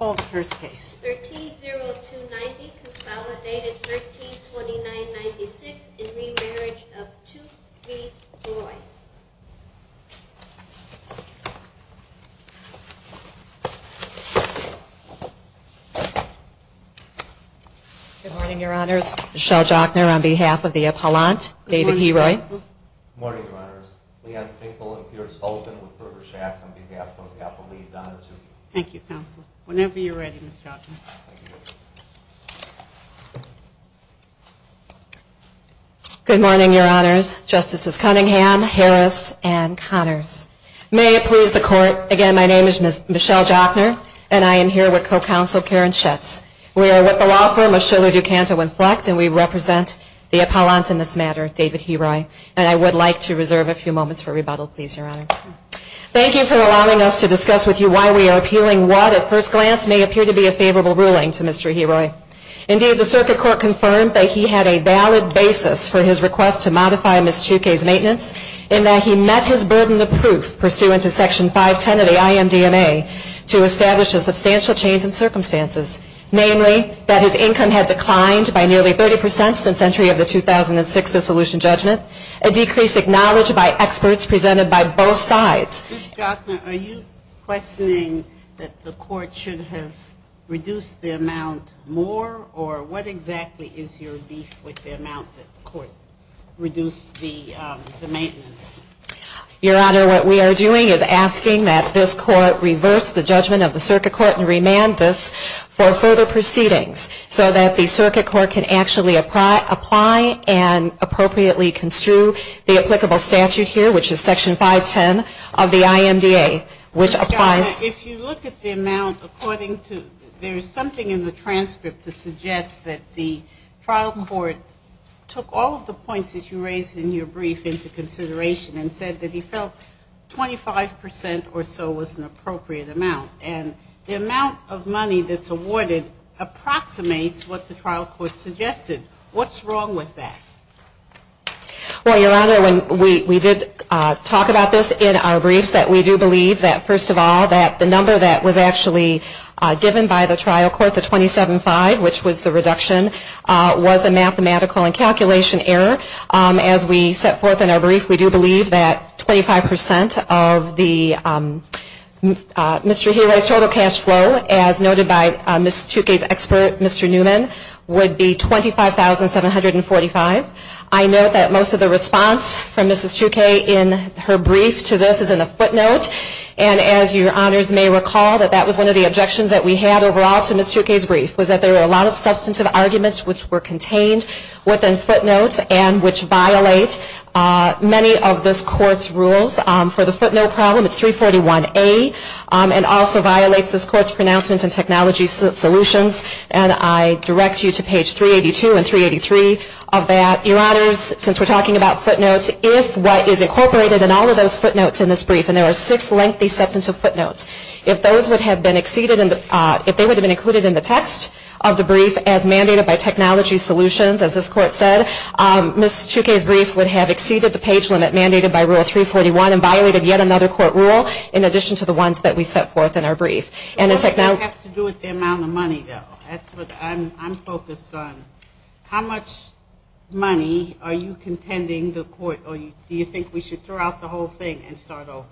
Roy. Good morning, Your Honors. Michelle Jochner on behalf of the Apollant, David Heroy. Good morning, Your Honors. Leanne Finkel and Piers Fulton with Berger-Shaxx on behalf of the Apolline Donahue-Tuke. Thank you, Counsel. Whenever you're ready, Ms. Jochner. Good morning, Your Honors. Justices Cunningham, Harris, and Connors. May it please the Court, again, my name is Michelle Jochner and I am here with Co-Counsel Karen Schatz. We are with the law firm of Shuler-Ducanto Inflect and we represent the Apollant in this matter, David Heroy. And I would like to reserve a few moments for rebuttal, please, Your Honor. Thank you for allowing us to discuss with you why we are appealing what, at first glance, may appear to be a favorable ruling to Mr. Heroy. Indeed, the Circuit Court confirmed that he had a valid basis for his request to modify Ms. Tuke's maintenance in that he met his burden of proof pursuant to Section 510 of the IMDMA to establish a substantial change in circumstances. Namely, that his income had declined by nearly 30 percent since entry of the 2006 dissolution judgment, a decrease acknowledged by experts presented by both sides. Ms. Jochner, are you questioning that the Court should have reduced the amount more, or what exactly is your beef with the amount that the Court reduced the maintenance? Your Honor, what we are doing is asking that this Court reverse the judgment of the Circuit Court and remand this for further proceedings so that the Circuit Court can actually apply and appropriately construe the applicable statute here, which is Section 510 of the IMDA, which applies Ms. Jochner, if you look at the amount according to, there is something in the transcript to suggest that the trial court took all of the points that you raised in your brief into consideration and said that he felt 25 percent or so was an appropriate amount. And the amount of money that's awarded approximates what the trial court suggested. What's wrong with that? Well, Your Honor, when we did talk about this in our briefs, that we do believe that, first of all, that the number that was actually given by the trial court, the 27-5, which was the reduction, was a mathematical and calculation error. As we set forth in our brief, we do believe that 25 percent of the total cash flow, as noted by Ms. Tukey's expert, Mr. Newman, would be $25,745. I note that most of the response from Ms. Tukey in her brief to this is in a footnote. And as Your Honors may recall, that that was one of the objections that we had overall to Ms. Tukey's brief, was that there were a lot of substantive arguments which were contained within footnotes and which violate many of this Court's rules. For the footnote problem, it's 341A and also violates this Court's pronouncements and technology solutions. And I direct you to page 382 and 383 of that. Your Honors, since we're talking about footnotes, if what is incorporated in all of those footnotes in this brief and there are six lengthy sets of footnotes, if those would have been exceeded, if they would have been included in the text of the brief as mandated by technology solutions, as this Court said, Ms. Tukey's brief would have exceeded the page limit mandated by Rule 341 and violated yet another Court rule in addition to the ones that we set forth in our brief. What does that have to do with the amount of money, though? That's what I'm focused on. How much money are you contending the Court, or do you think we should throw out the whole thing and start over?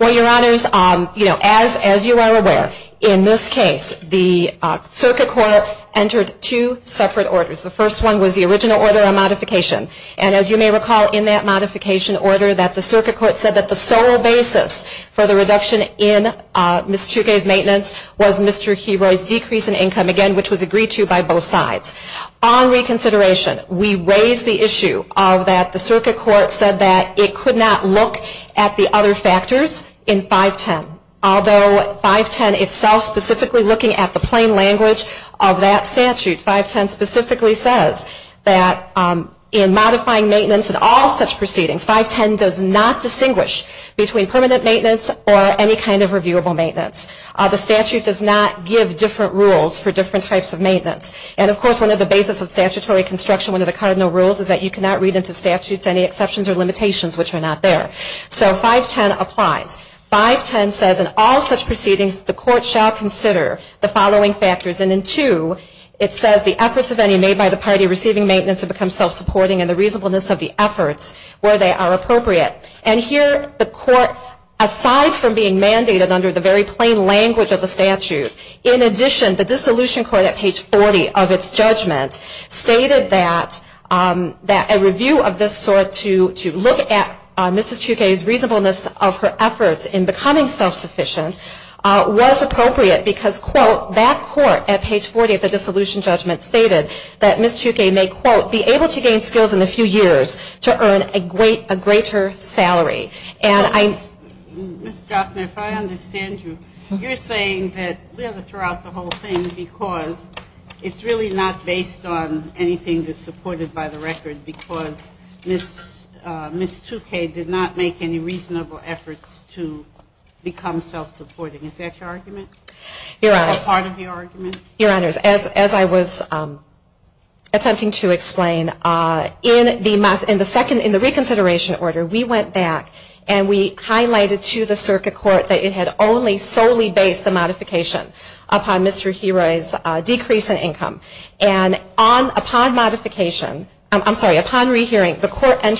Well, Your Honors, as you are aware, in this case, the Circuit Court entered two separate orders. The first one was the original order on modification. And as you may recall, in that modification order, that the Circuit Court said that the sole basis for the reduction in Ms. Tukey's maintenance was Mr. Heroy's decrease in income, again, which was agreed to by both sides. On reconsideration, we raise the issue of that the Circuit Court said that it could not look at the other factors in 510, although 510 itself specifically looking at the plain language of that statute, 510 specifically says that in modifying maintenance in all such proceedings, 510 does not distinguish between permanent maintenance or any kind of reviewable maintenance. The statute does not give different rules for different types of maintenance. And of course, one of the basis of statutory construction, one of the cardinal rules, is that you cannot read into statutes any exceptions or limitations which are not there. So 510 applies. 510 says in all such proceedings, the Court shall consider the following factors. And in 2, it says the efforts of any made by the party receiving maintenance to become self-supporting and the reasonableness of the efforts where they are appropriate. And here, the Court, aside from being mandated under the very plain language of the statute, in addition, the Dissolution Court at page 40 of its judgment stated that a review of this sort to look at Ms. Tukey's reasonableness of her efforts in becoming self-sufficient was appropriate because, quote, that court at page 40 of the dissolution judgment stated that Ms. Tukey may, quote, be able to gain skills in a few years to earn a greater salary. And I Ms. Drostner, if I understand you, you're saying that we have to throw out the whole thing because it's really not based on anything that's supported by the record because Ms. Tukey did not make any reasonable efforts to become self-sufficient. And I'm not sure that that's true. And I'm not sure that Ms. Tukey did not make any reasonable efforts to become self-supporting. Is that your argument? Your Honor, as I was attempting to explain, in the second, in the reconsideration order, we went back and we highlighted to the circuit court that it had only solely based the modification upon Mr. Heroy's decrease in income. And upon modification, I'm sorry, upon re-hearing, the court found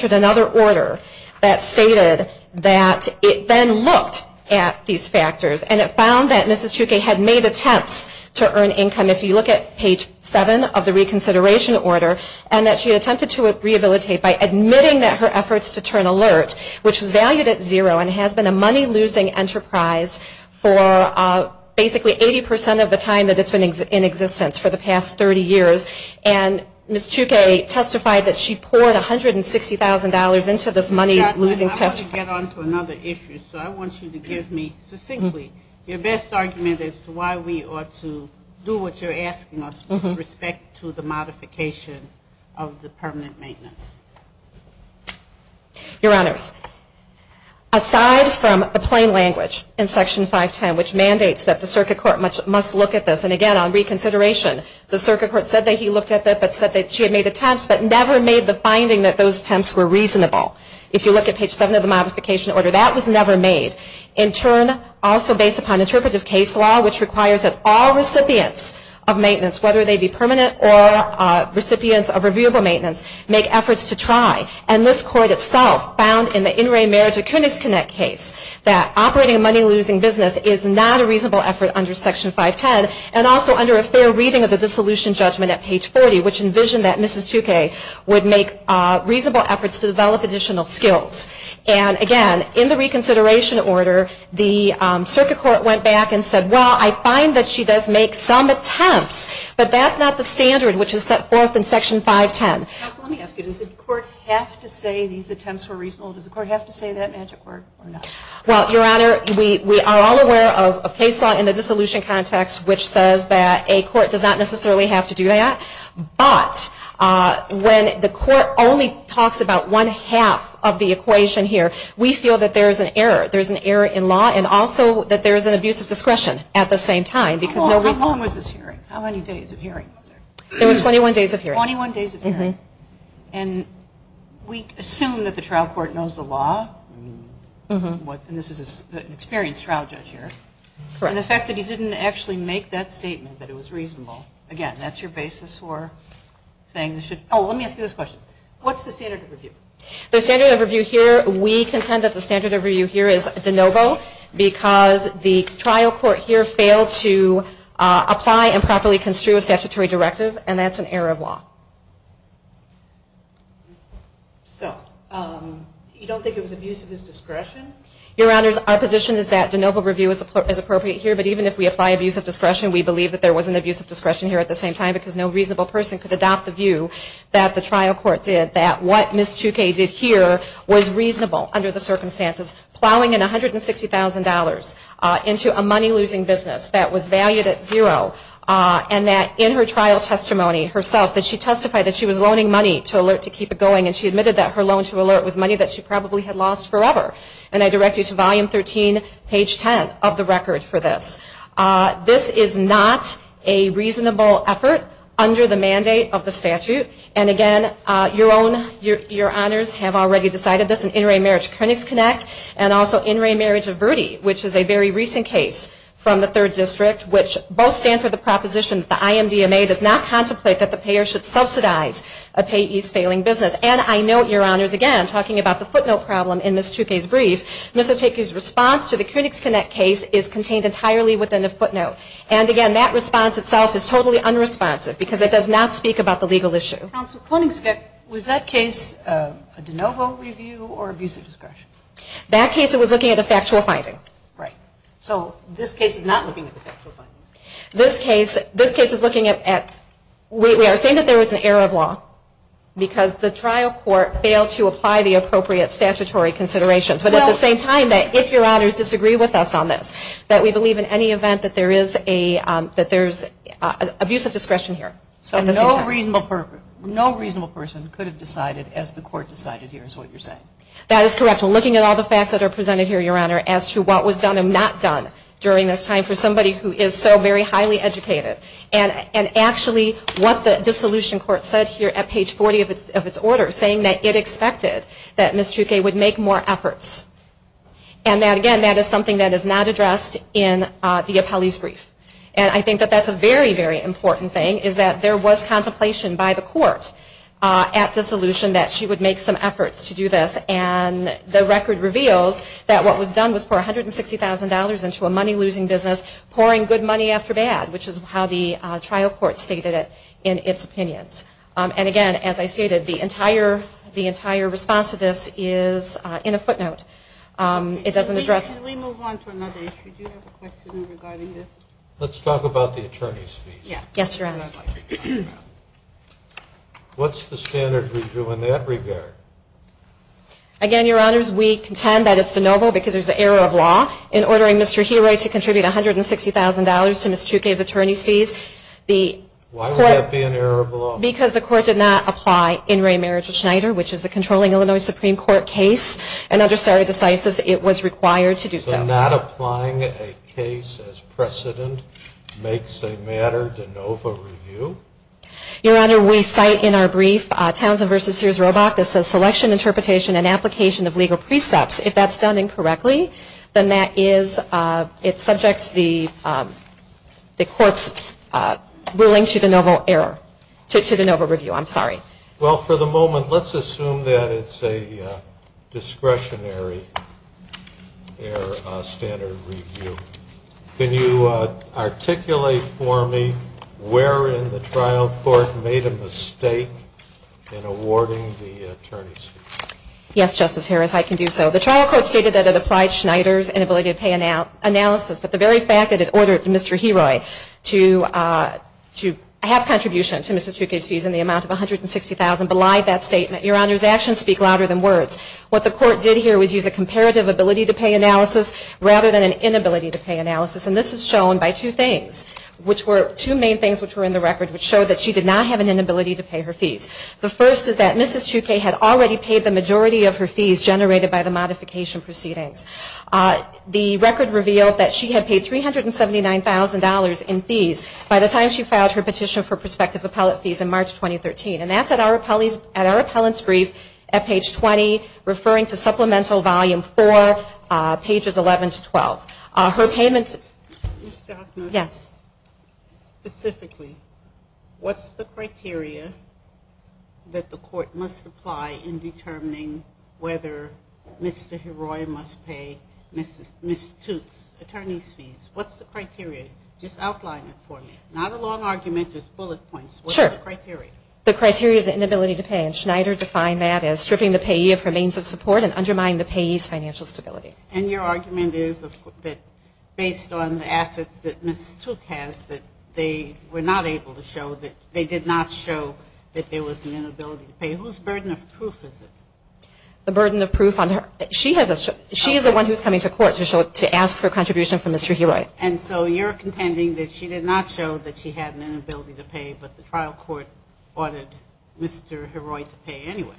that Ms. Tukey had made attempts to earn income, if you look at page 7 of the reconsideration order, and that she attempted to rehabilitate by admitting that her efforts to turn alert, which was valued at zero and has been a money-losing enterprise for basically 80% of the time that it's been in existence for the past 30 years. And Ms. Tukey testified that she poured $160,000 into this money-losing enterprise to help her to get her job back. And that's not the only issue. So I want you to give me, succinctly, your best argument as to why we ought to do what you're asking us with respect to the modification of the permanent maintenance. Your Honors, aside from the plain language in Section 510, which mandates that the circuit court must look at this, and again, on reconsideration, the circuit court said that he looked at that but said that she had made attempts but never made the finding that those attempts were reasonable. If you look at page 7 of the modification order, that was never made. In turn, also based upon interpretive case law, which requires that all recipients of maintenance, whether they be permanent or recipients of reviewable maintenance, make efforts to try. And this court itself found in the in-ray marriage or KunixConnect case that operating a money-losing business is not a reasonable effort under Section 510, and also under a fair reading of the dissolution judgment at page 40, which envisioned that Mrs. Tukay would make reasonable efforts to develop additional skills. And again, in the reconsideration order, the circuit court went back and said, well, I find that she does make some attempts, but that's not the standard which is set forth in Section 510. Does the court have to say these attempts were reasonable? Does the court have to say that magic word or not? Well, Your Honor, we are all aware of case law in the dissolution context which says that a court does not necessarily have to do that. But when the court only talks about one half of the equation here, we feel that there is an error. There is an error in law and also that there is an abuse of discretion at the same time. How long was this hearing? How many days of hearing? It was 21 days of hearing. And we assume that the trial court knows the law. And this is an experienced trial judge here. And the fact that he didn't actually make that statement that it was reasonable, again, that's your basis for saying it should be. Oh, let me ask you this question. What's the standard of review? The standard of review here, we contend that the standard of review here is de novo because the trial court here failed to apply and properly construe a statutory directive and that's an error of law. So, you don't think it was abuse of his discretion? Your Honor, our position is that de novo review is appropriate here. But even if we apply abuse of discretion, we believe that there was an abuse of discretion here at the same time because no reasonable person could adopt the view that the trial court did, that what Ms. Choucay did here was reasonable under the circumstances. Plowing in $160,000 into a money losing business that was valued at zero and the trial court did not apply. And that in her trial testimony herself, that she testified that she was loaning money to alert to keep it going and she admitted that her loan to alert was money that she probably had lost forever. And I direct you to Volume 13, page 10 of the record for this. This is not a reasonable effort under the mandate of the statute. And again, your own, your Honors have already decided this in In Re Marriage Clinics Connect and also In Re Marriage of Verde, which is a very recent case from the 3rd District, which both stand for the proposition that the IMDMA does not contemplate that the payer should subsidize a payee's failing business. And I note, your Honors, again, talking about the footnote problem in Ms. Choucay's brief, Ms. Oteke's response to the Clinics Connect case is contained entirely within a footnote. And again, that response itself is totally unresponsive because it does not speak about the legal issue. Counsel, was that case a de novo review or abuse of discretion? That case it was looking at a factual finding. Right. So this case is not looking at a factual finding? This case, this case is looking at, we are saying that there is an error of law because the trial court failed to apply the appropriate statutory considerations. But at the same time, if your Honors disagree with us on this, that we believe in any event that there is a, that there is abuse of discretion here. So no reasonable person could have decided as the court decided here is what you're saying? That is correct. We're looking at all the facts that are presented here, your Honor, as to what was done and not done during this time for Ms. Choucay is so very highly educated. And actually what the dissolution court said here at page 40 of its order, saying that it expected that Ms. Choucay would make more efforts. And that again, that is something that is not addressed in the appellee's brief. And I think that that's a very, very important thing is that there was contemplation by the court at dissolution that she would make some efforts to do this. And the trial court stated it in its opinions. And again, as I stated, the entire, the entire response to this is in a footnote. It doesn't address. Can we move on to another issue? Do you have a question regarding this? Let's talk about the attorney's fees. Yes, Your Honors. What's the standard review in that regard? Again, Your Honors, we contend that it's de novo because there's an error of law in ordering Mr. Heroy to contribute $160,000 to Ms. Choucay's attorney's fees. Why would that be an error of law? Because the court did not apply In re Meritus Schneider, which is a controlling Illinois Supreme Court case, and under stare decisis, it was required to do so. So not applying a case as precedent makes a matter de novo review? Your Honor, we cite in our brief Townsend v. Sears-Robach that says selection, interpretation, and application of legal precepts. If that's done incorrectly, then that is, it subjects the court's ruling to de novo error, to de novo review. I'm sorry. Well, for the moment, let's assume that it's a discretionary error standard review. Can you articulate for me where in the trial court made a mistake in awarding the attorney's fees? Yes, Justice Harris, I can do so. The trial court stated that it applied Schneider's inability to pay analysis, but the very fact that it ordered Mr. Heroy to have contribution to Ms. Choucay's fees in the amount of $160,000 belied that statement. Your Honors, actions speak louder than words. What the court did here was use a comparative ability to pay analysis rather than an inability to pay analysis. And this is shown by two things, which were two main things which were in the record, which showed that she did not have an inability to pay her fees. The first is that Mrs. Choucay had already paid the majority of her fees generated by the modification proceedings. The record revealed that she had paid $379,000 in fees by the time she filed her petition for prospective appellate fees in March 2013. And that's at our appellant's brief at page 20, referring to Supplemental Volume 4, pages 11-12. Ms. Doudna, specifically, what's the criteria that the court must apply in determining whether Mr. Heroy must pay Ms. Choucay's attorney's fees? What's the criteria? Just outline it for me. Not a long argument, just bullet points. What's the criteria? The criteria is an inability to pay, and Schneider defined that as stripping the payee of her means of support and undermining the payee's financial stability. And your argument is that based on the assets that Ms. Choucay has, that they were not able to show that they did not show that there was an inability to pay. Whose burden of proof is it? The burden of proof on her. She is the one who is coming to court to ask for a contribution from Mr. Heroy. And so you're contending that she did not show that she had an inability to pay, but the trial court ordered Mr. Heroy to pay anyway.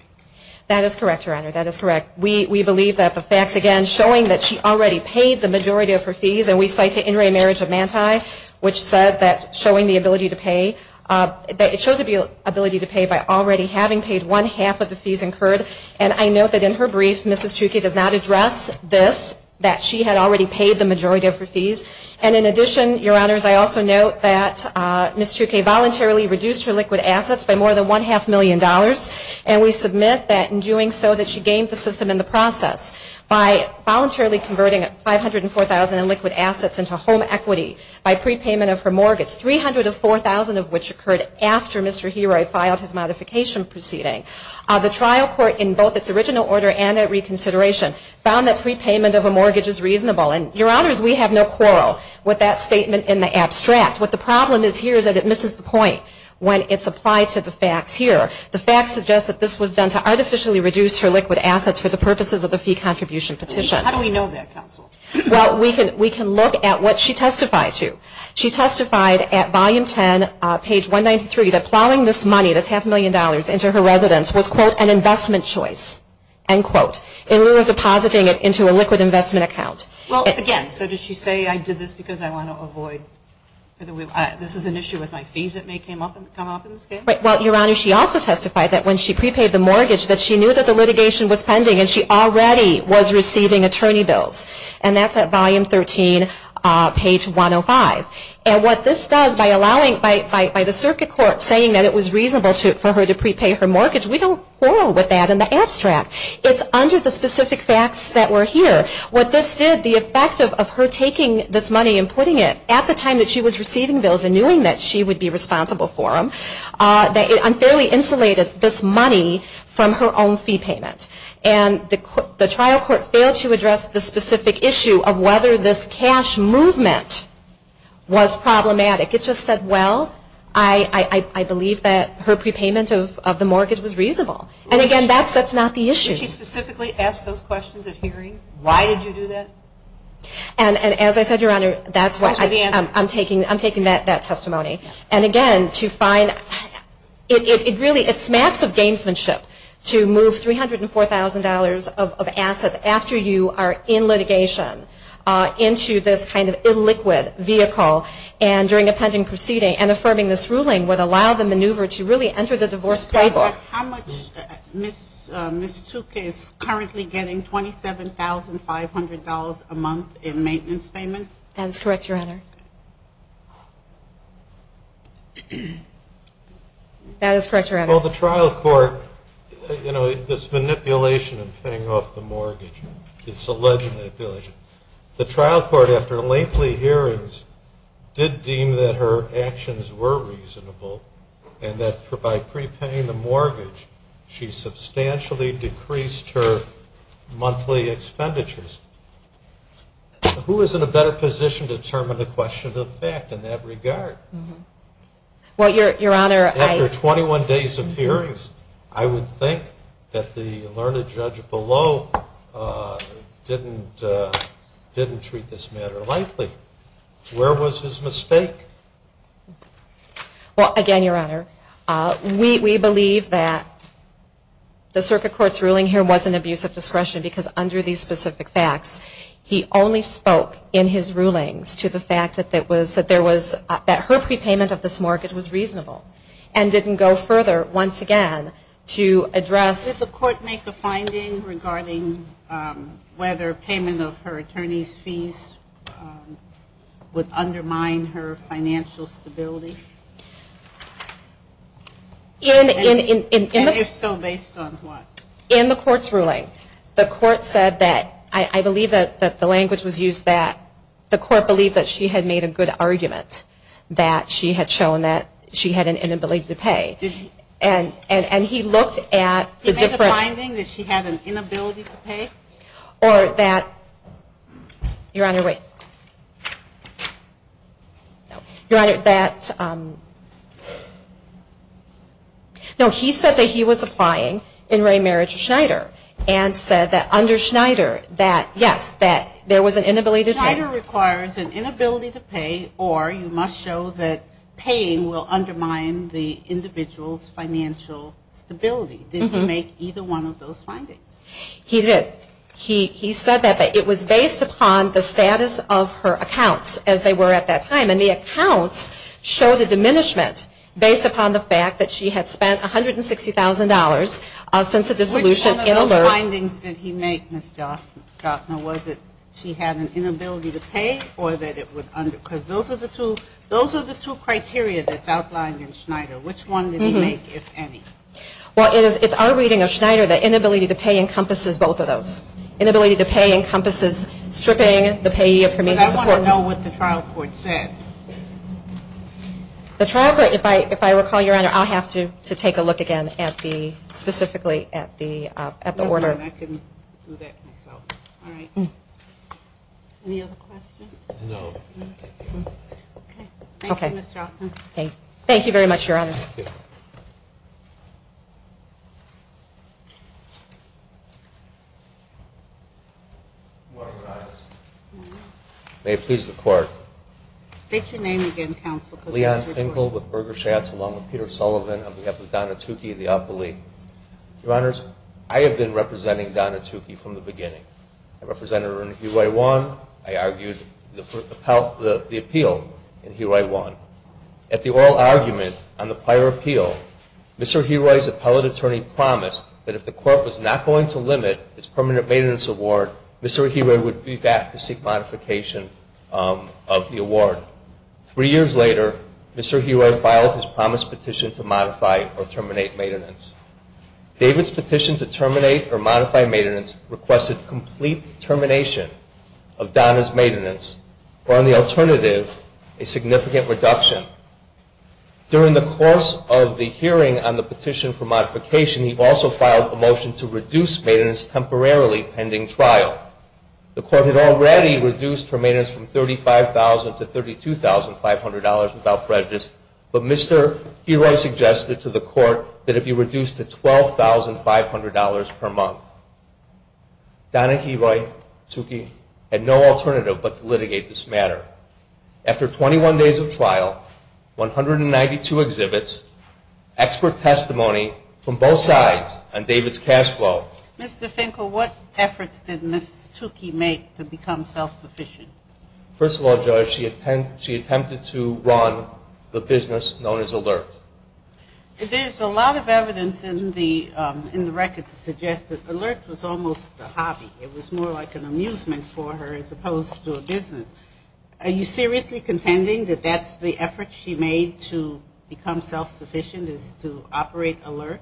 That is correct, Your Honor. That is correct. We believe that the facts, again, showing that she already paid the majority of her fees, and we cite to In Re Marriage of Manti, which said that showing the ability to pay, that it shows the ability to pay by already having paid one half of the fees incurred. And I note that in her brief, Ms. Choucay does not address this, that she had already paid the majority of her fees. And in addition, Your Honors, I also note that Ms. Choucay voluntarily reduced her liquid assets by more than $1.5 million, and we submit that in doing so that she gained the system in the process by voluntarily converting $504,000 in liquid assets into home equity by prepayment of her mortgage, $300,000 of $4,000 of which occurred after Mr. Heroy filed his modification proceeding. The trial court, in both its original order and at reconsideration, found that prepayment of a mortgage is reasonable. And, Your Honors, we have no quarrel with that statement in the abstract. What the problem is here is that it misses the point when it's applied to the facts here. The facts suggest that this was done to artificially reduce her liquid assets for the purposes of the fee contribution petition. How do we know that, Counsel? Well, we can look at what she testified to. She testified at Volume 10, page 193, that plowing this money, this $500,000, into her residence was, quote, an investment choice, end quote, in lieu of depositing it into a liquid investment account. Well, again, so did she say, I did this because I want to avoid, this is an issue with my fees that may come up in this case? Well, Your Honors, she also testified that when she prepaid the mortgage that she knew that the litigation was pending and she already was receiving attorney bills. And that's at Volume 13, page 105. And what this does, by allowing, by the circuit court saying that it was reasonable for her to prepay her mortgage, we don't quarrel with that in the abstract. It's under the specific facts that were here. What this did, the effect of her taking this money and putting it at the time that she was receiving bills and knowing that she would be responsible for them, that it unfairly insulated this money from her own fee payment. And the trial court failed to address the specific issue of whether this cash movement was problematic. It just said, well, I believe that her prepayment of the mortgage was reasonable. And again, that's not the issue. Did she specifically ask those questions at hearing? Why did you do that? And as I said, Your Honor, that's why I'm taking that testimony. And again, to find, it really, it smacks of gamesmanship to move $304,000 of assets after you are in litigation into this kind of illiquid vehicle and during a pending proceeding and affirming this ruling would allow the maneuver to really enter the divorce playbook. How much, Ms. Tuca is currently getting, $27,500 a month in maintenance payments? That is correct, Your Honor. That is correct, Your Honor. Well, the trial court, you know, this manipulation of paying off the mortgage, it's alleged manipulation. The trial court, after lengthy hearings, did deem that her actions were reasonable and that by prepaying the mortgage, she substantially decreased her monthly expenditures. Who is in a better position to determine the question of fact in that regard? Well, Your Honor, I... After 21 days of hearings, I would think that the learned judge below didn't treat this matter lightly. Where was his mistake? Well, again, Your Honor, we believe that the circuit court's ruling here was an abuse of discretion because under these specific facts, he only spoke in his rulings to the fact that there was, that her prepayment of this mortgage was reasonable and didn't go further, once again, to address... Did the court make a finding regarding whether payment of her attorney's fees would undermine her financial stability? And if so, based on what? In the court's ruling, the court said that... I believe that the language was used that the court believed that she had made a good argument that she had shown that she had an inability to pay. And he looked at the different... Did he make a finding that she had an inability to pay? Or that... Your Honor, wait. Your Honor, that... No, he said that he was applying in re marriage to Schneider and said that under Schneider that, yes, that there was an inability to pay. Schneider requires an inability to pay or you must show that paying will undermine the individual's financial stability. Did he make either one of those findings? He did. He said that it was based upon the status of her accounts as they were at that time. And the accounts showed a diminishment based upon the fact that she had spent $160,000 since the dissolution in alert. Which one of those findings did he make, Ms. Doudna? Was it she had an inability to pay or that it would... Because those are the two criteria that's outlined in Schneider. Which one did he make, if any? Well, it's our reading of Schneider that inability to pay encompasses both of those. I want to know what the trial court said. The trial court, if I recall, Your Honor, I'll have to take a look again at the, specifically at the order. No, no, I can do that myself. All right. Any other questions? No. Okay. Thank you, Ms. Doudna. Thank you very much, Your Honors. Thank you. Good morning, Your Honors. Good morning. May it please the Court. State your name again, Counsel. Leon Finkel with Berger Schatz, along with Peter Sullivan, on behalf of Donna Tukey, the appellee. Your Honors, I have been representing Donna Tukey from the beginning. I represented her in Huey 1. I argued the appeal in Huey 1. At the oral argument on the prior appeal, Mr. Huey's appellate attorney promised that if the court was not going to limit its permanent maintenance award, Mr. Huey would be back to seek modification of the award. Three years later, Mr. Huey filed his promised petition to modify or terminate maintenance. David's petition to terminate or modify maintenance requested complete termination of Donna's maintenance or, on the alternative, a significant reduction. During the course of the hearing on the petition for modification, he also filed a motion to reduce maintenance temporarily pending trial. The court had already reduced her maintenance from $35,000 to $32,500 without prejudice, but Mr. Huey suggested to the court that it be reduced to $12,500 per month. Donna Huey, Tukey, had no alternative but to litigate this matter. After 21 days of trial, 192 exhibits, expert testimony from both sides, and David's cash flow. Mr. Finkel, what efforts did Ms. Tukey make to become self-sufficient? First of all, Judge, she attempted to run the business known as Alert. There's a lot of evidence in the record that suggests that Alert was almost a hobby. It was more like an amusement for her as opposed to a business. Are you seriously contending that that's the effort she made to become self-sufficient is to operate Alert?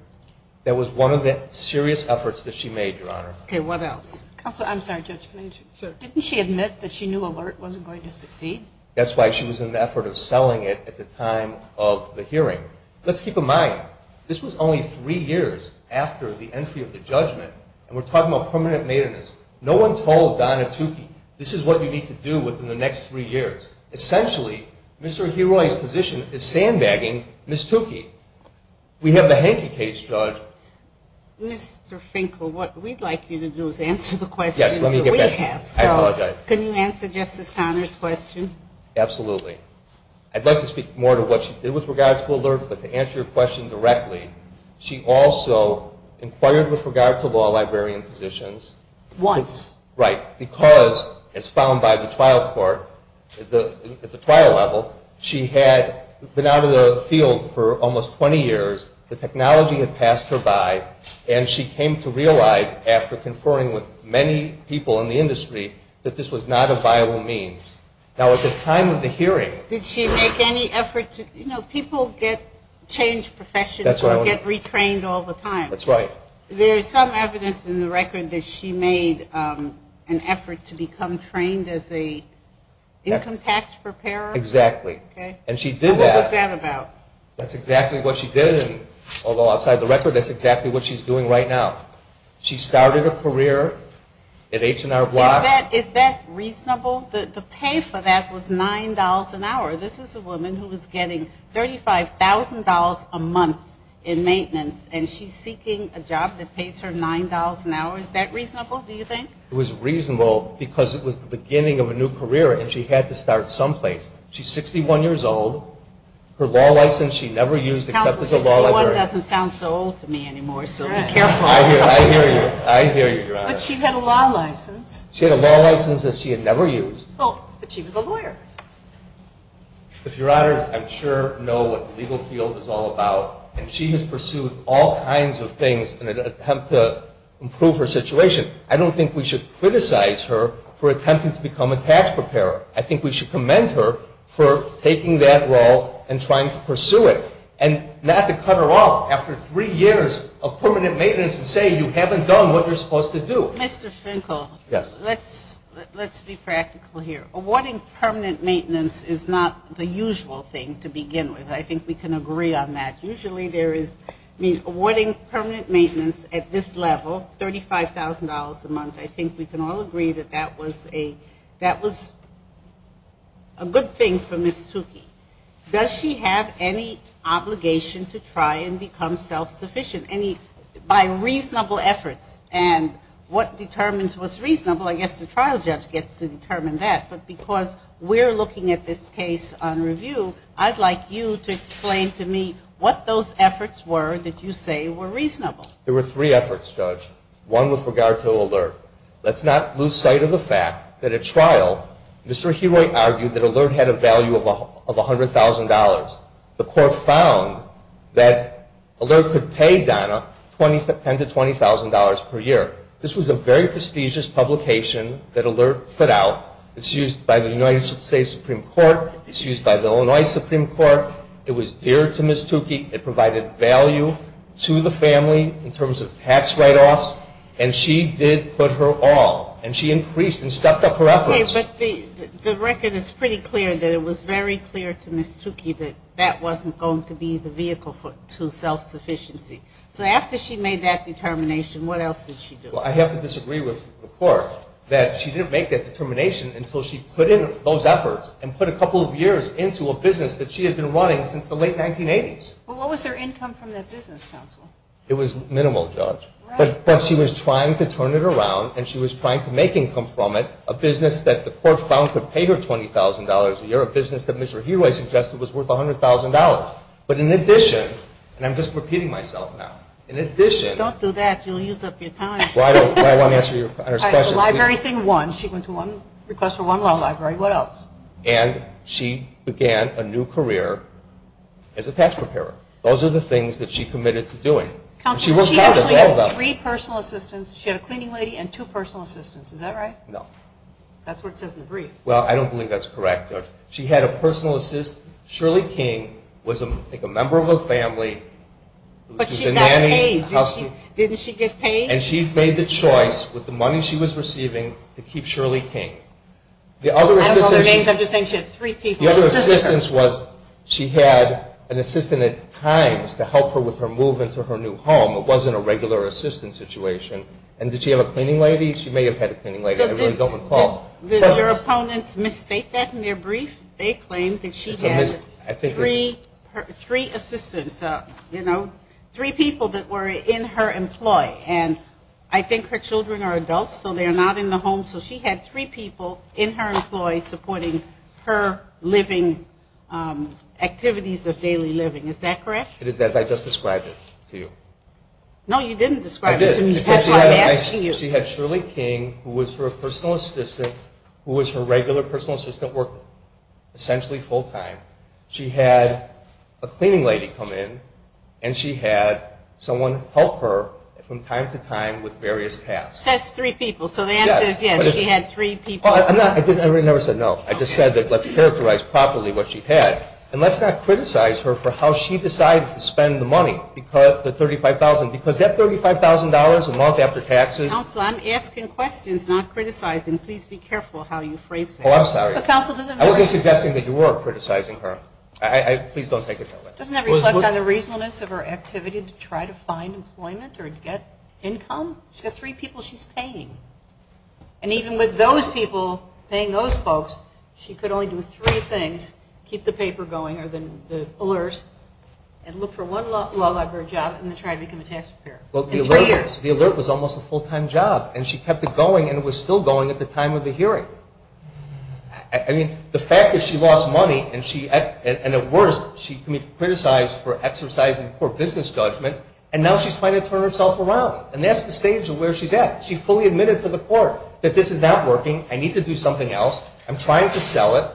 That was one of the serious efforts that she made, Your Honor. Okay. What else? Counselor, I'm sorry. Judge, didn't she admit that she knew Alert wasn't going to succeed? That's why she was in the effort of selling it at the time of the hearing. Let's keep in mind, this was only three years after the entry of the judgment, and we're talking about permanent maintenance. No one told Donna Tukey, this is what you need to do within the next three years. Essentially, Mr. Hiroy's position is sandbagging Ms. Tukey. We have the Henke case, Judge. Mr. Finkel, what we'd like you to do is answer the questions that we have. Yes, let me get back. I apologize. Can you answer Justice Conner's question? Absolutely. I'd like to speak more to what she did with regard to Alert, but to answer your question directly, she also inquired with regard to law librarian positions. Once. Right. Because, as found by the trial court at the trial level, she had been out of the field for almost 20 years. The technology had passed her by, and she came to realize after conferring with many people in the industry that this was not a viable means. Now, at the time of the hearing. Did she make any effort to, you know, people get changed professions. That's right. Or get retrained all the time. That's right. There's some evidence in the record that she made an effort to become trained as an income tax preparer. Exactly. Okay. And she did that. What was that about? That's exactly what she did. Although, outside the record, that's exactly what she's doing right now. She started a career at H&R Block. Is that reasonable? The pay for that was $9 an hour. This is a woman who was getting $35,000 a month in maintenance, and she's seeking a job that pays her $9 an hour. Is that reasonable, do you think? It was reasonable because it was the beginning of a new career, and she had to start someplace. She's 61 years old. Her law license she never used except as a law lawyer. Counsel, this woman doesn't sound so old to me anymore, so be careful. I hear you. I hear you, Your Honor. But she had a law license. She had a law license that she had never used. Oh, but she was a lawyer. If Your Honors, I'm sure, know what the legal field is all about, and she has pursued all kinds of things in an attempt to improve her situation. I don't think we should criticize her for attempting to become a tax preparer. I think we should commend her for taking that role and trying to pursue it and not to cut her off after three years of permanent maintenance and say you haven't done what you're supposed to do. Mr. Finkel. Yes. Let's be practical here. Awarding permanent maintenance is not the usual thing to begin with. I think we can agree on that. Usually there is awarding permanent maintenance at this level, $35,000 a month, I think we can all agree that that was a good thing for Ms. Tukey. Does she have any obligation to try and become self-sufficient by reasonable efforts? And what determines what's reasonable, I guess the trial judge gets to determine that. But because we're looking at this case on review, I'd like you to explain to me what those efforts were that you say were reasonable. There were three efforts, Judge, one with regard to Alert. Let's not lose sight of the fact that at trial, Mr. Herold argued that Alert had a value of $100,000. The court found that Alert could pay Donna $10,000 to $20,000 per year. This was a very prestigious publication that Alert put out. It's used by the United States Supreme Court. It's used by the Illinois Supreme Court. It was dear to Ms. Tukey. It provided value to the family in terms of tax write-offs. And she did put her all. And she increased and stepped up her efforts. Okay, but the record is pretty clear that it was very clear to Ms. Tukey that that wasn't going to be the vehicle to self-sufficiency. So after she made that determination, what else did she do? Well, I have to disagree with the court that she didn't make that determination until she put in those efforts and put a couple of years into a business that she had been running since the late 1980s. Well, what was her income from that business, counsel? It was minimal, Judge. But she was trying to turn it around, and she was trying to make income from it, a business that the court found could pay her $20,000 a year, a business that Mr. Hirai suggested was worth $100,000. But in addition, and I'm just repeating myself now, in addition. Don't do that. You'll use up your time. Well, I want to answer your question. The library thing won. She went to one request for one law library. What else? And she began a new career as a tax preparer. Those are the things that she committed to doing. Counsel, she actually has three personal assistants. She had a cleaning lady and two personal assistants. Is that right? No. That's what it says in the brief. Well, I don't believe that's correct, Judge. She had a personal assistant. Shirley King was, I think, a member of a family. But she got paid. Didn't she get paid? And she made the choice with the money she was receiving to keep Shirley King. I don't know their names. I'm just saying she had three people. The other assistance was she had an assistant at times to help her with her move into her new home. It wasn't a regular assistant situation. And did she have a cleaning lady? She may have had a cleaning lady. I really don't recall. Your opponents misstate that in their brief? They claim that she had three assistants, you know, three people that were in her employ. And I think her children are adults, so they are not in the home. So she had three people in her employ supporting her living activities of daily living. Is that correct? It is as I just described it to you. No, you didn't describe it to me. That's why I'm asking you. She had Shirley King, who was her personal assistant, who was her regular personal assistant working, essentially full time. She had a cleaning lady come in, and she had someone help her from time to time with various tasks. Says three people. So the answer is yes, she had three people. I never said no. I just said that let's characterize properly what she had. And let's not criticize her for how she decided to spend the money, the $35,000, because that $35,000 a month after taxes. Counsel, I'm asking questions, not criticizing. Please be careful how you phrase that. Oh, I'm sorry. I wasn't suggesting that you were criticizing her. Please don't take it that way. Doesn't that reflect on the reasonableness of her activity to try to find employment or get income? She had three people she's paying. And even with those people paying those folks, she could only do three things, keep the paper going or the alerts, and look for one law library job, and then try to become a tax preparer. In three years. The alert was almost a full-time job, and she kept it going, and it was still going at the time of the hearing. I mean, the fact that she lost money, and at worst she can be criticized for exercising poor business judgment, and now she's trying to turn herself around. And that's the stage of where she's at. She fully admitted to the court that this is not working. I need to do something else. I'm trying to sell it.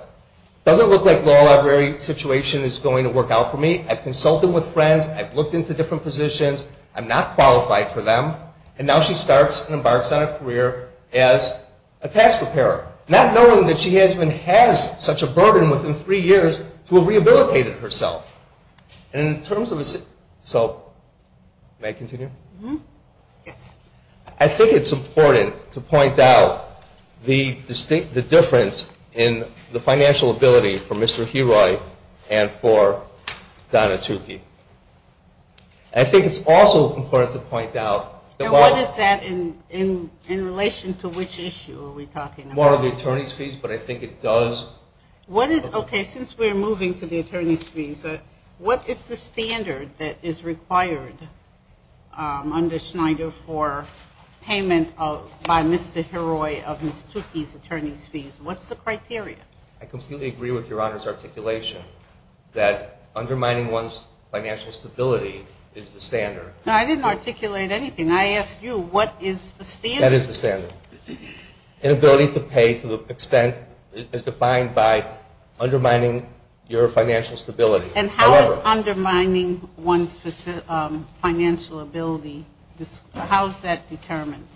Doesn't look like law library situation is going to work out for me. I've consulted with friends. I've looked into different positions. I'm not qualified for them. And now she starts and embarks on a career as a tax preparer, not knowing that she even has such a burden within three years to have rehabilitated herself. And in terms of a... So, may I continue? Yes. I think it's important to point out the difference in the financial ability for Mr. Heroy and for Donna Tukey. I think it's also important to point out... And what is that in relation to which issue are we talking about? More of the attorney's fees, but I think it does... Okay, since we're moving to the attorney's fees, what is the standard that is required under Schneider for payment by Mr. Heroy of Ms. Tukey's attorney's fees? What's the criteria? I completely agree with Your Honor's articulation that undermining one's financial stability is the standard. No, I didn't articulate anything. I asked you what is the standard. That is the standard. Inability to pay to the extent as defined by undermining your financial stability. And how is undermining one's financial ability, how is that determined?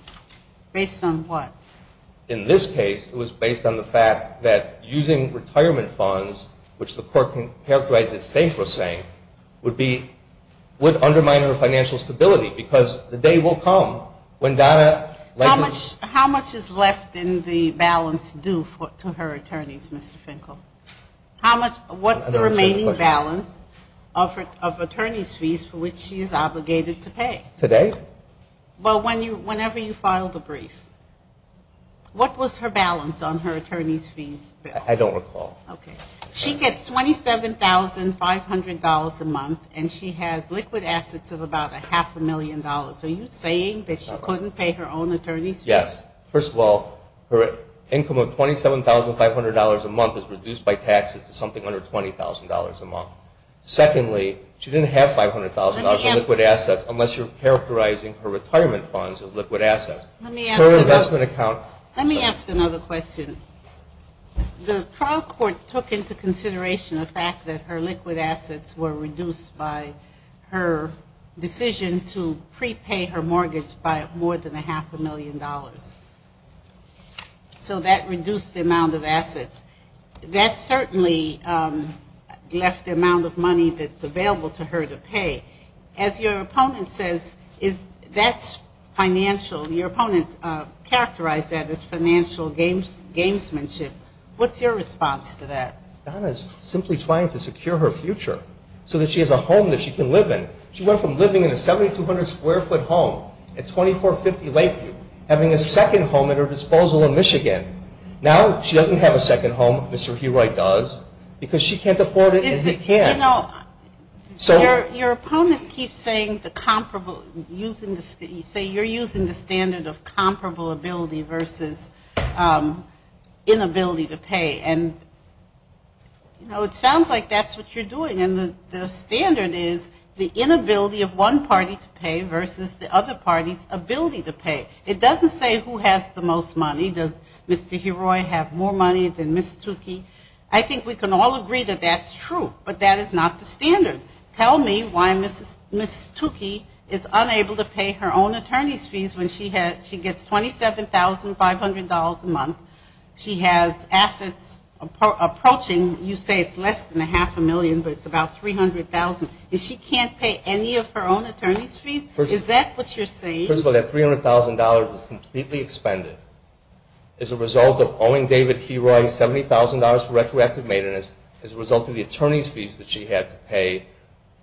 Based on what? In this case, it was based on the fact that using retirement funds, which the court characterized as saint for a saint, would undermine her financial stability because the day will come when Donna... How much is left in the balance due to her attorneys, Mr. Finkel? What's the remaining balance of attorney's fees for which she is obligated to pay? Today? Well, whenever you file the brief. What was her balance on her attorney's fees? I don't recall. Okay. She gets $27,500 a month, and she has liquid assets of about a half a million dollars. Are you saying that she couldn't pay her own attorney's fees? Yes. First of all, her income of $27,500 a month is reduced by taxes to something under $20,000 a month. Secondly, she didn't have $500,000 in liquid assets unless you're characterizing her retirement funds as liquid assets. Her investment account... Let me ask another question. The trial court took into consideration the fact that her liquid assets were reduced by her decision to prepay her mortgage by more than a half a million dollars. So that reduced the amount of assets. That certainly left the amount of money that's available to her to pay. As your opponent says, that's financial. Your opponent characterized that as financial gamesmanship. What's your response to that? Donna is simply trying to secure her future so that she has a home that she can live in. She went from living in a 7,200-square-foot home at 2450 Lakeview, having a second home at her disposal in Michigan. Now she doesn't have a second home. Mr. Heroy does, because she can't afford it and he can't. Your opponent keeps saying you're using the standard of comparable ability versus inability to pay. And, you know, it sounds like that's what you're doing. And the standard is the inability of one party to pay versus the other party's ability to pay. It doesn't say who has the most money. Does Mr. Heroy have more money than Ms. Tukey? I think we can all agree that that's true, but that is not the standard. Tell me why Ms. Tukey is unable to pay her own attorney's fees when she gets $27,500 a month, she has assets approaching, you say it's less than a half a million, but it's about $300,000. She can't pay any of her own attorney's fees? Is that what you're saying? First of all, that $300,000 was completely expended as a result of owing David Heroy $70,000 for retroactive maintenance as a result of the attorney's fees that she had to pay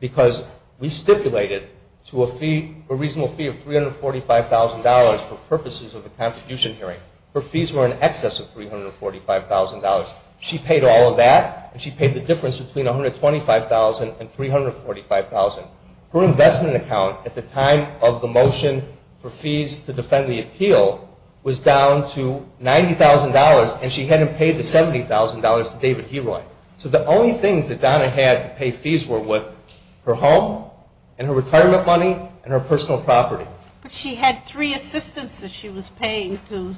because we stipulated to a fee, a reasonable fee of $345,000 for purposes of a contribution hearing. Her fees were in excess of $345,000. She paid all of that, and she paid the difference between $125,000 and $345,000. Her investment account at the time of the motion for fees to defend the appeal was down to $90,000, and she hadn't paid the $70,000 to David Heroy. So the only things that Donna had to pay fees were with her home and her retirement money and her personal property. But she had three assistants that she was paying to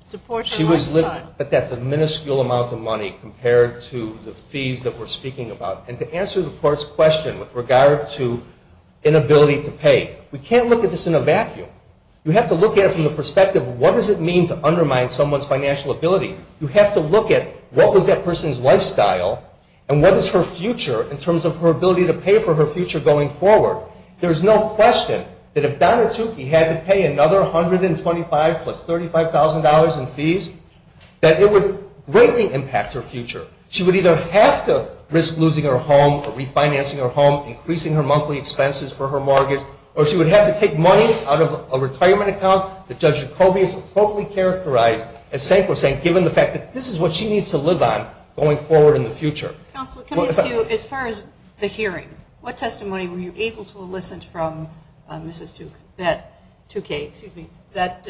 support her lifestyle. But that's a minuscule amount of money compared to the fees that we're speaking about. And to answer the court's question with regard to inability to pay, we can't look at this in a vacuum. You have to look at it from the perspective of what does it mean to undermine someone's financial ability. You have to look at what was that person's lifestyle and what is her future in terms of her ability to pay for her future going forward. There's no question that if Donna Tukey had to pay another $125,000 plus $35,000 in fees, that it would greatly impact her future. She would either have to risk losing her home or refinancing her home, increasing her monthly expenses for her mortgage, or she would have to take money out of a retirement account that Judge Jacoby has appropriately characterized as saying, given the fact that this is what she needs to live on going forward in the future. Counselor, can I ask you, as far as the hearing, what testimony were you able to elicit from Mrs. Tukey that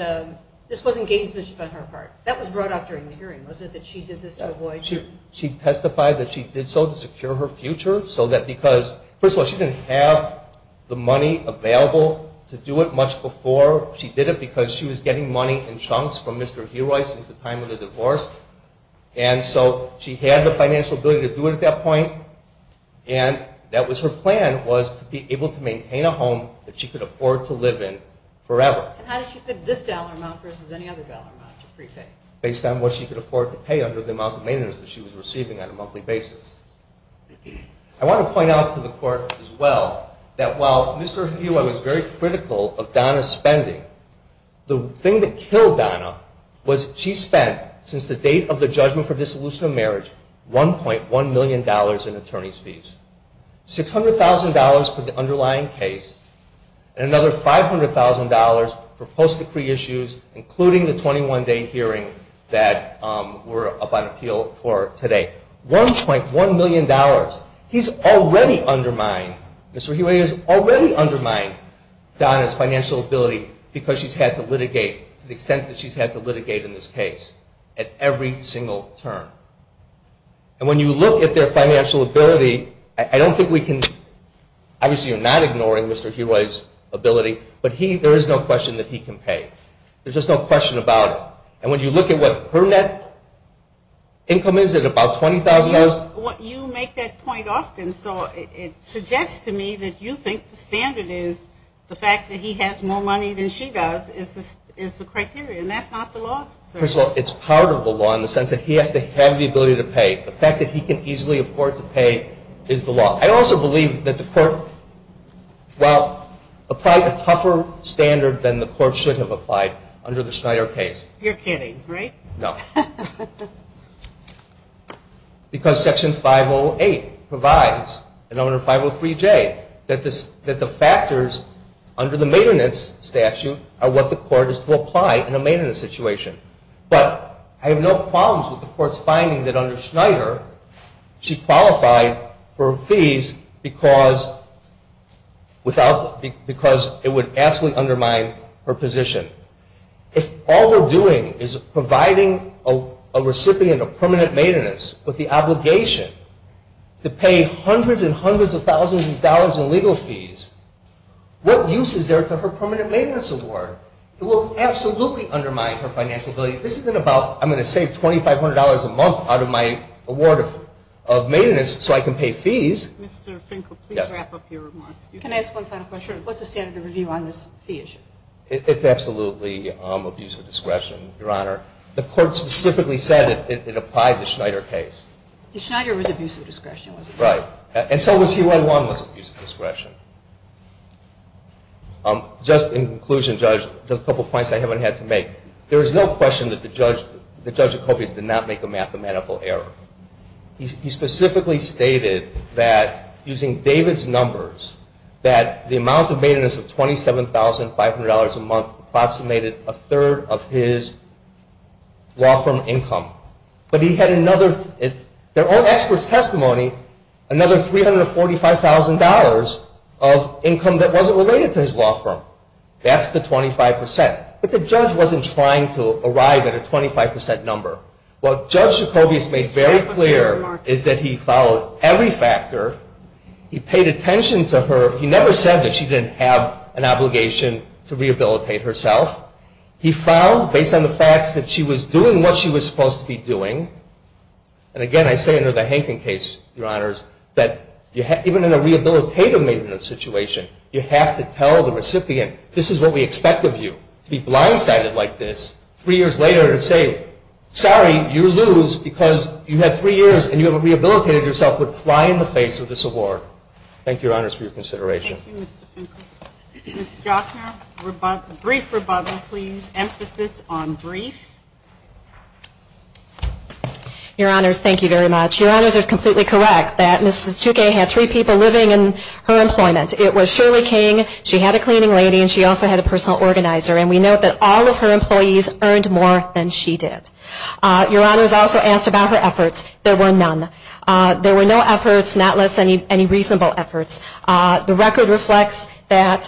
this wasn't gamesmanship on her part? That was brought up during the hearing, wasn't it, that she did this to avoid? She testified that she did so to secure her future. First of all, she didn't have the money available to do it much before she did it because she was getting money in chunks from Mr. Heroy since the time of the divorce. And so she had the financial ability to do it at that point, and that was her plan was to be able to maintain a home that she could afford to live in forever. And how did she pick this dollar amount versus any other dollar amount to prepay? Based on what she could afford to pay under the amount of maintenance that she was receiving on a monthly basis. I want to point out to the court as well that while Mr. Heroy was very critical of Donna's spending, the thing that killed Donna was she spent, since the date of the judgment for dissolution of marriage, $1.1 million in attorney's fees. $600,000 for the underlying case, and another $500,000 for post-decree issues, including the 21-day hearing that we're up on appeal for today. $1.1 million. He's already undermined, Mr. Heroy has already undermined Donna's financial ability because she's had to litigate to the extent that she's had to litigate in this case at every single term. And when you look at their financial ability, I don't think we can, obviously you're not ignoring Mr. Heroy's ability, but there is no question that he can pay. There's just no question about it. And when you look at what her net income is at about $20,000. You make that point often, so it suggests to me that you think the standard is, the fact that he has more money than she does is the criteria, and that's not the law. First of all, it's part of the law in the sense that he has to have the ability to pay. The fact that he can easily afford to pay is the law. I also believe that the court, well, applied a tougher standard than the court should have applied under the Schneider case. You're kidding, right? No. Because Section 508 provides, and under 503J, that the factors under the maintenance statute are what the court is to apply in a maintenance situation. But I have no problems with the court's finding that under Schneider, she qualified for fees because it would vastly undermine her position. If all we're doing is providing a recipient of permanent maintenance with the obligation to pay hundreds and hundreds of thousands of dollars in legal fees, what use is there to her permanent maintenance award? It will absolutely undermine her financial ability. This isn't about I'm going to save $2,500 a month out of my award of maintenance so I can pay fees. Mr. Finkel, please wrap up your remarks. Can I ask one final question? What's the standard of review on this fee issue? It's absolutely abuse of discretion, Your Honor. The court specifically said it applied the Schneider case. The Schneider was abuse of discretion, was it not? Right. And so was C-11 was abuse of discretion. Just in conclusion, Judge, just a couple of points I haven't had to make. There is no question that the Judge Jacobius did not make a mathematical error. He specifically stated that using David's numbers, that the amount of maintenance of $27,500 a month approximated a third of his law firm income. But he had another, in their own expert's testimony, another $345,000 of income that wasn't related to his law firm. That's the 25%. But the Judge wasn't trying to arrive at a 25% number. What Judge Jacobius made very clear is that he followed every factor. He paid attention to her. He never said that she didn't have an obligation to rehabilitate herself. He found, based on the facts, that she was doing what she was supposed to be doing. And again, I say under the Hankin case, Your Honors, that even in a rehabilitative maintenance situation, you have to tell the recipient, this is what we expect of you, to be blindsided like this. Three years later to say, sorry, you lose because you had three years and you haven't rehabilitated yourself, would fly in the face of this award. Thank you, Your Honors, for your consideration. Thank you, Mr. Finkel. Ms. Jochner, brief rebuttal, please. Emphasis on brief. Your Honors, thank you very much. Your Honors are completely correct that Mrs. Tutukay had three people living in her employment. It was Shirley King, she had a cleaning lady, and she also had a personal organizer. And we note that all of her employees earned more than she did. Your Honors also asked about her efforts. There were none. There were no efforts, not less any reasonable efforts. The record reflects that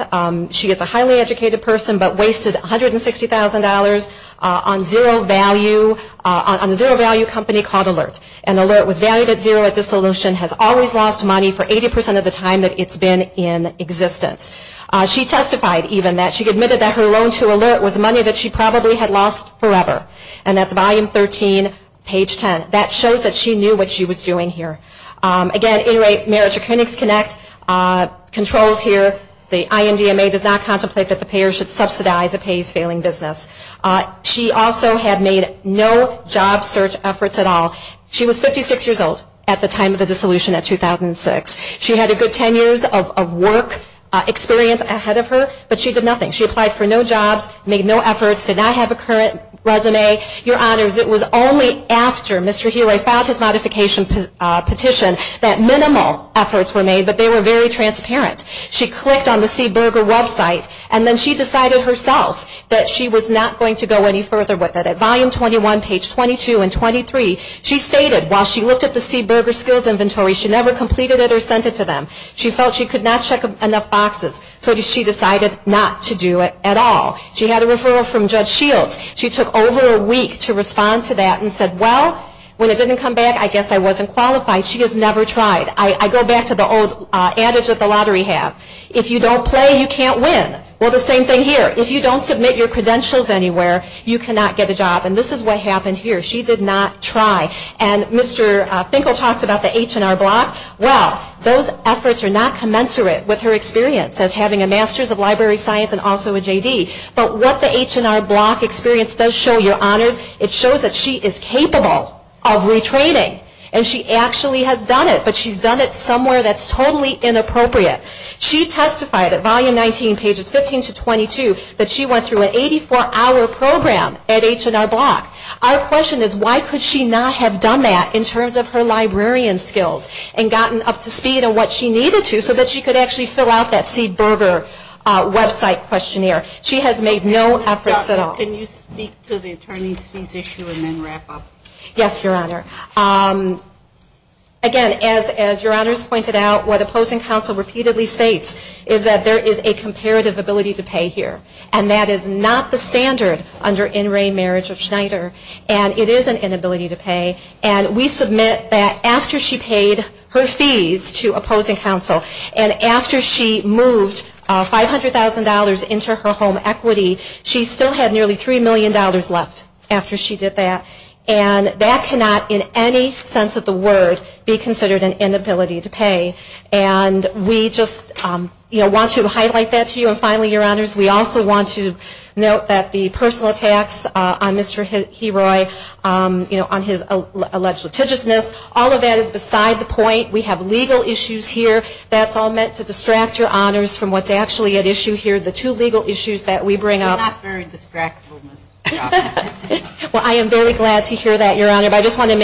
she is a highly educated person, but wasted $160,000 on zero value, on a zero value company called Alert. And Alert was valued at zero at dissolution, has always lost money for 80% of the time that it's been in existence. She testified even that she admitted that her loan to Alert was money that she probably had lost forever. And that's volume 13, page 10. That shows that she knew what she was doing here. Again, inter-marriage accounts connect, controls here, the IMDMA does not contemplate that the payer should subsidize a payee's failing business. She also had made no job search efforts at all. She was 56 years old at the time of the dissolution in 2006. She had a good 10 years of work experience ahead of her, but she did nothing. She applied for no jobs, made no efforts, did not have a current resume. Your Honors, it was only after Mr. Healy filed his modification petition that minimal efforts were made, but they were very transparent. She clicked on the SeedBurger website and then she decided herself that she was not going to go any further with it. At volume 21, page 22 and 23, she stated while she looked at the SeedBurger skills inventory, she never completed it or sent it to them. She felt she could not check enough boxes, so she decided not to do it at all. She had a referral from Judge Shields. She took over a week to respond to that and said, well, when it didn't come back, I guess I wasn't qualified. She has never tried. I go back to the old adage that the lottery have. If you don't play, you can't win. Well, the same thing here. If you don't submit your credentials anywhere, you cannot get a job. And this is what happened here. She did not try. And Mr. Finkel talks about the H&R Block. Well, those efforts are not commensurate with her experience as having a Master's of Library Science and also a JD. But what the H&R Block experience does show your honors, it shows that she is capable of retraining. And she actually has done it, but she's done it somewhere that's totally inappropriate. She testified at volume 19, pages 15 to 22, that she went through an 84-hour program at H&R Block. Our question is why could she not have done that in terms of her librarian skills and gotten up to speed on what she needed to so that she could actually fill out that SeedBurger website questionnaire. She has made no efforts at all. Can you speak to the attorney's fees issue and then wrap up? Yes, Your Honor. Again, as Your Honors pointed out, what opposing counsel repeatedly states is that there is a comparative ability to pay here. And that is not the standard under in re marriage of Schneider. And it is an inability to pay. And we submit that after she paid her fees to opposing counsel and after she moved $500,000 into her home equity, she still had nearly $3 million left after she did that. And that cannot in any sense of the word be considered an inability to pay. And we just want to highlight that to you. And finally, Your Honors, we also want to note that the personal tax on Mr. Heroy, on his alleged litigiousness, all of that is beside the point. We have legal issues here. That's all meant to distract Your Honors from what's actually at issue here, the two legal issues that we bring up. They're not very distractible, Ms. Cross. Well, I am very glad to hear that, Your Honor. But I just want to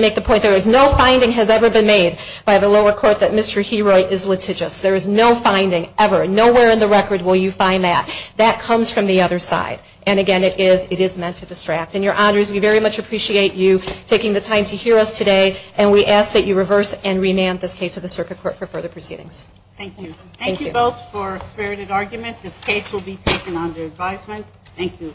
make the point there is no finding has ever been made by the lower court that Mr. Heroy is litigious. There is no finding ever. Nowhere in the record will you find that. That comes from the other side. And, again, it is meant to distract. And, Your Honors, we very much appreciate you taking the time to hear us today. And we ask that you reverse and remand this case to the circuit court for further proceedings. Thank you. Thank you both for a spirited argument. This case will be taken under advisement. Thank you.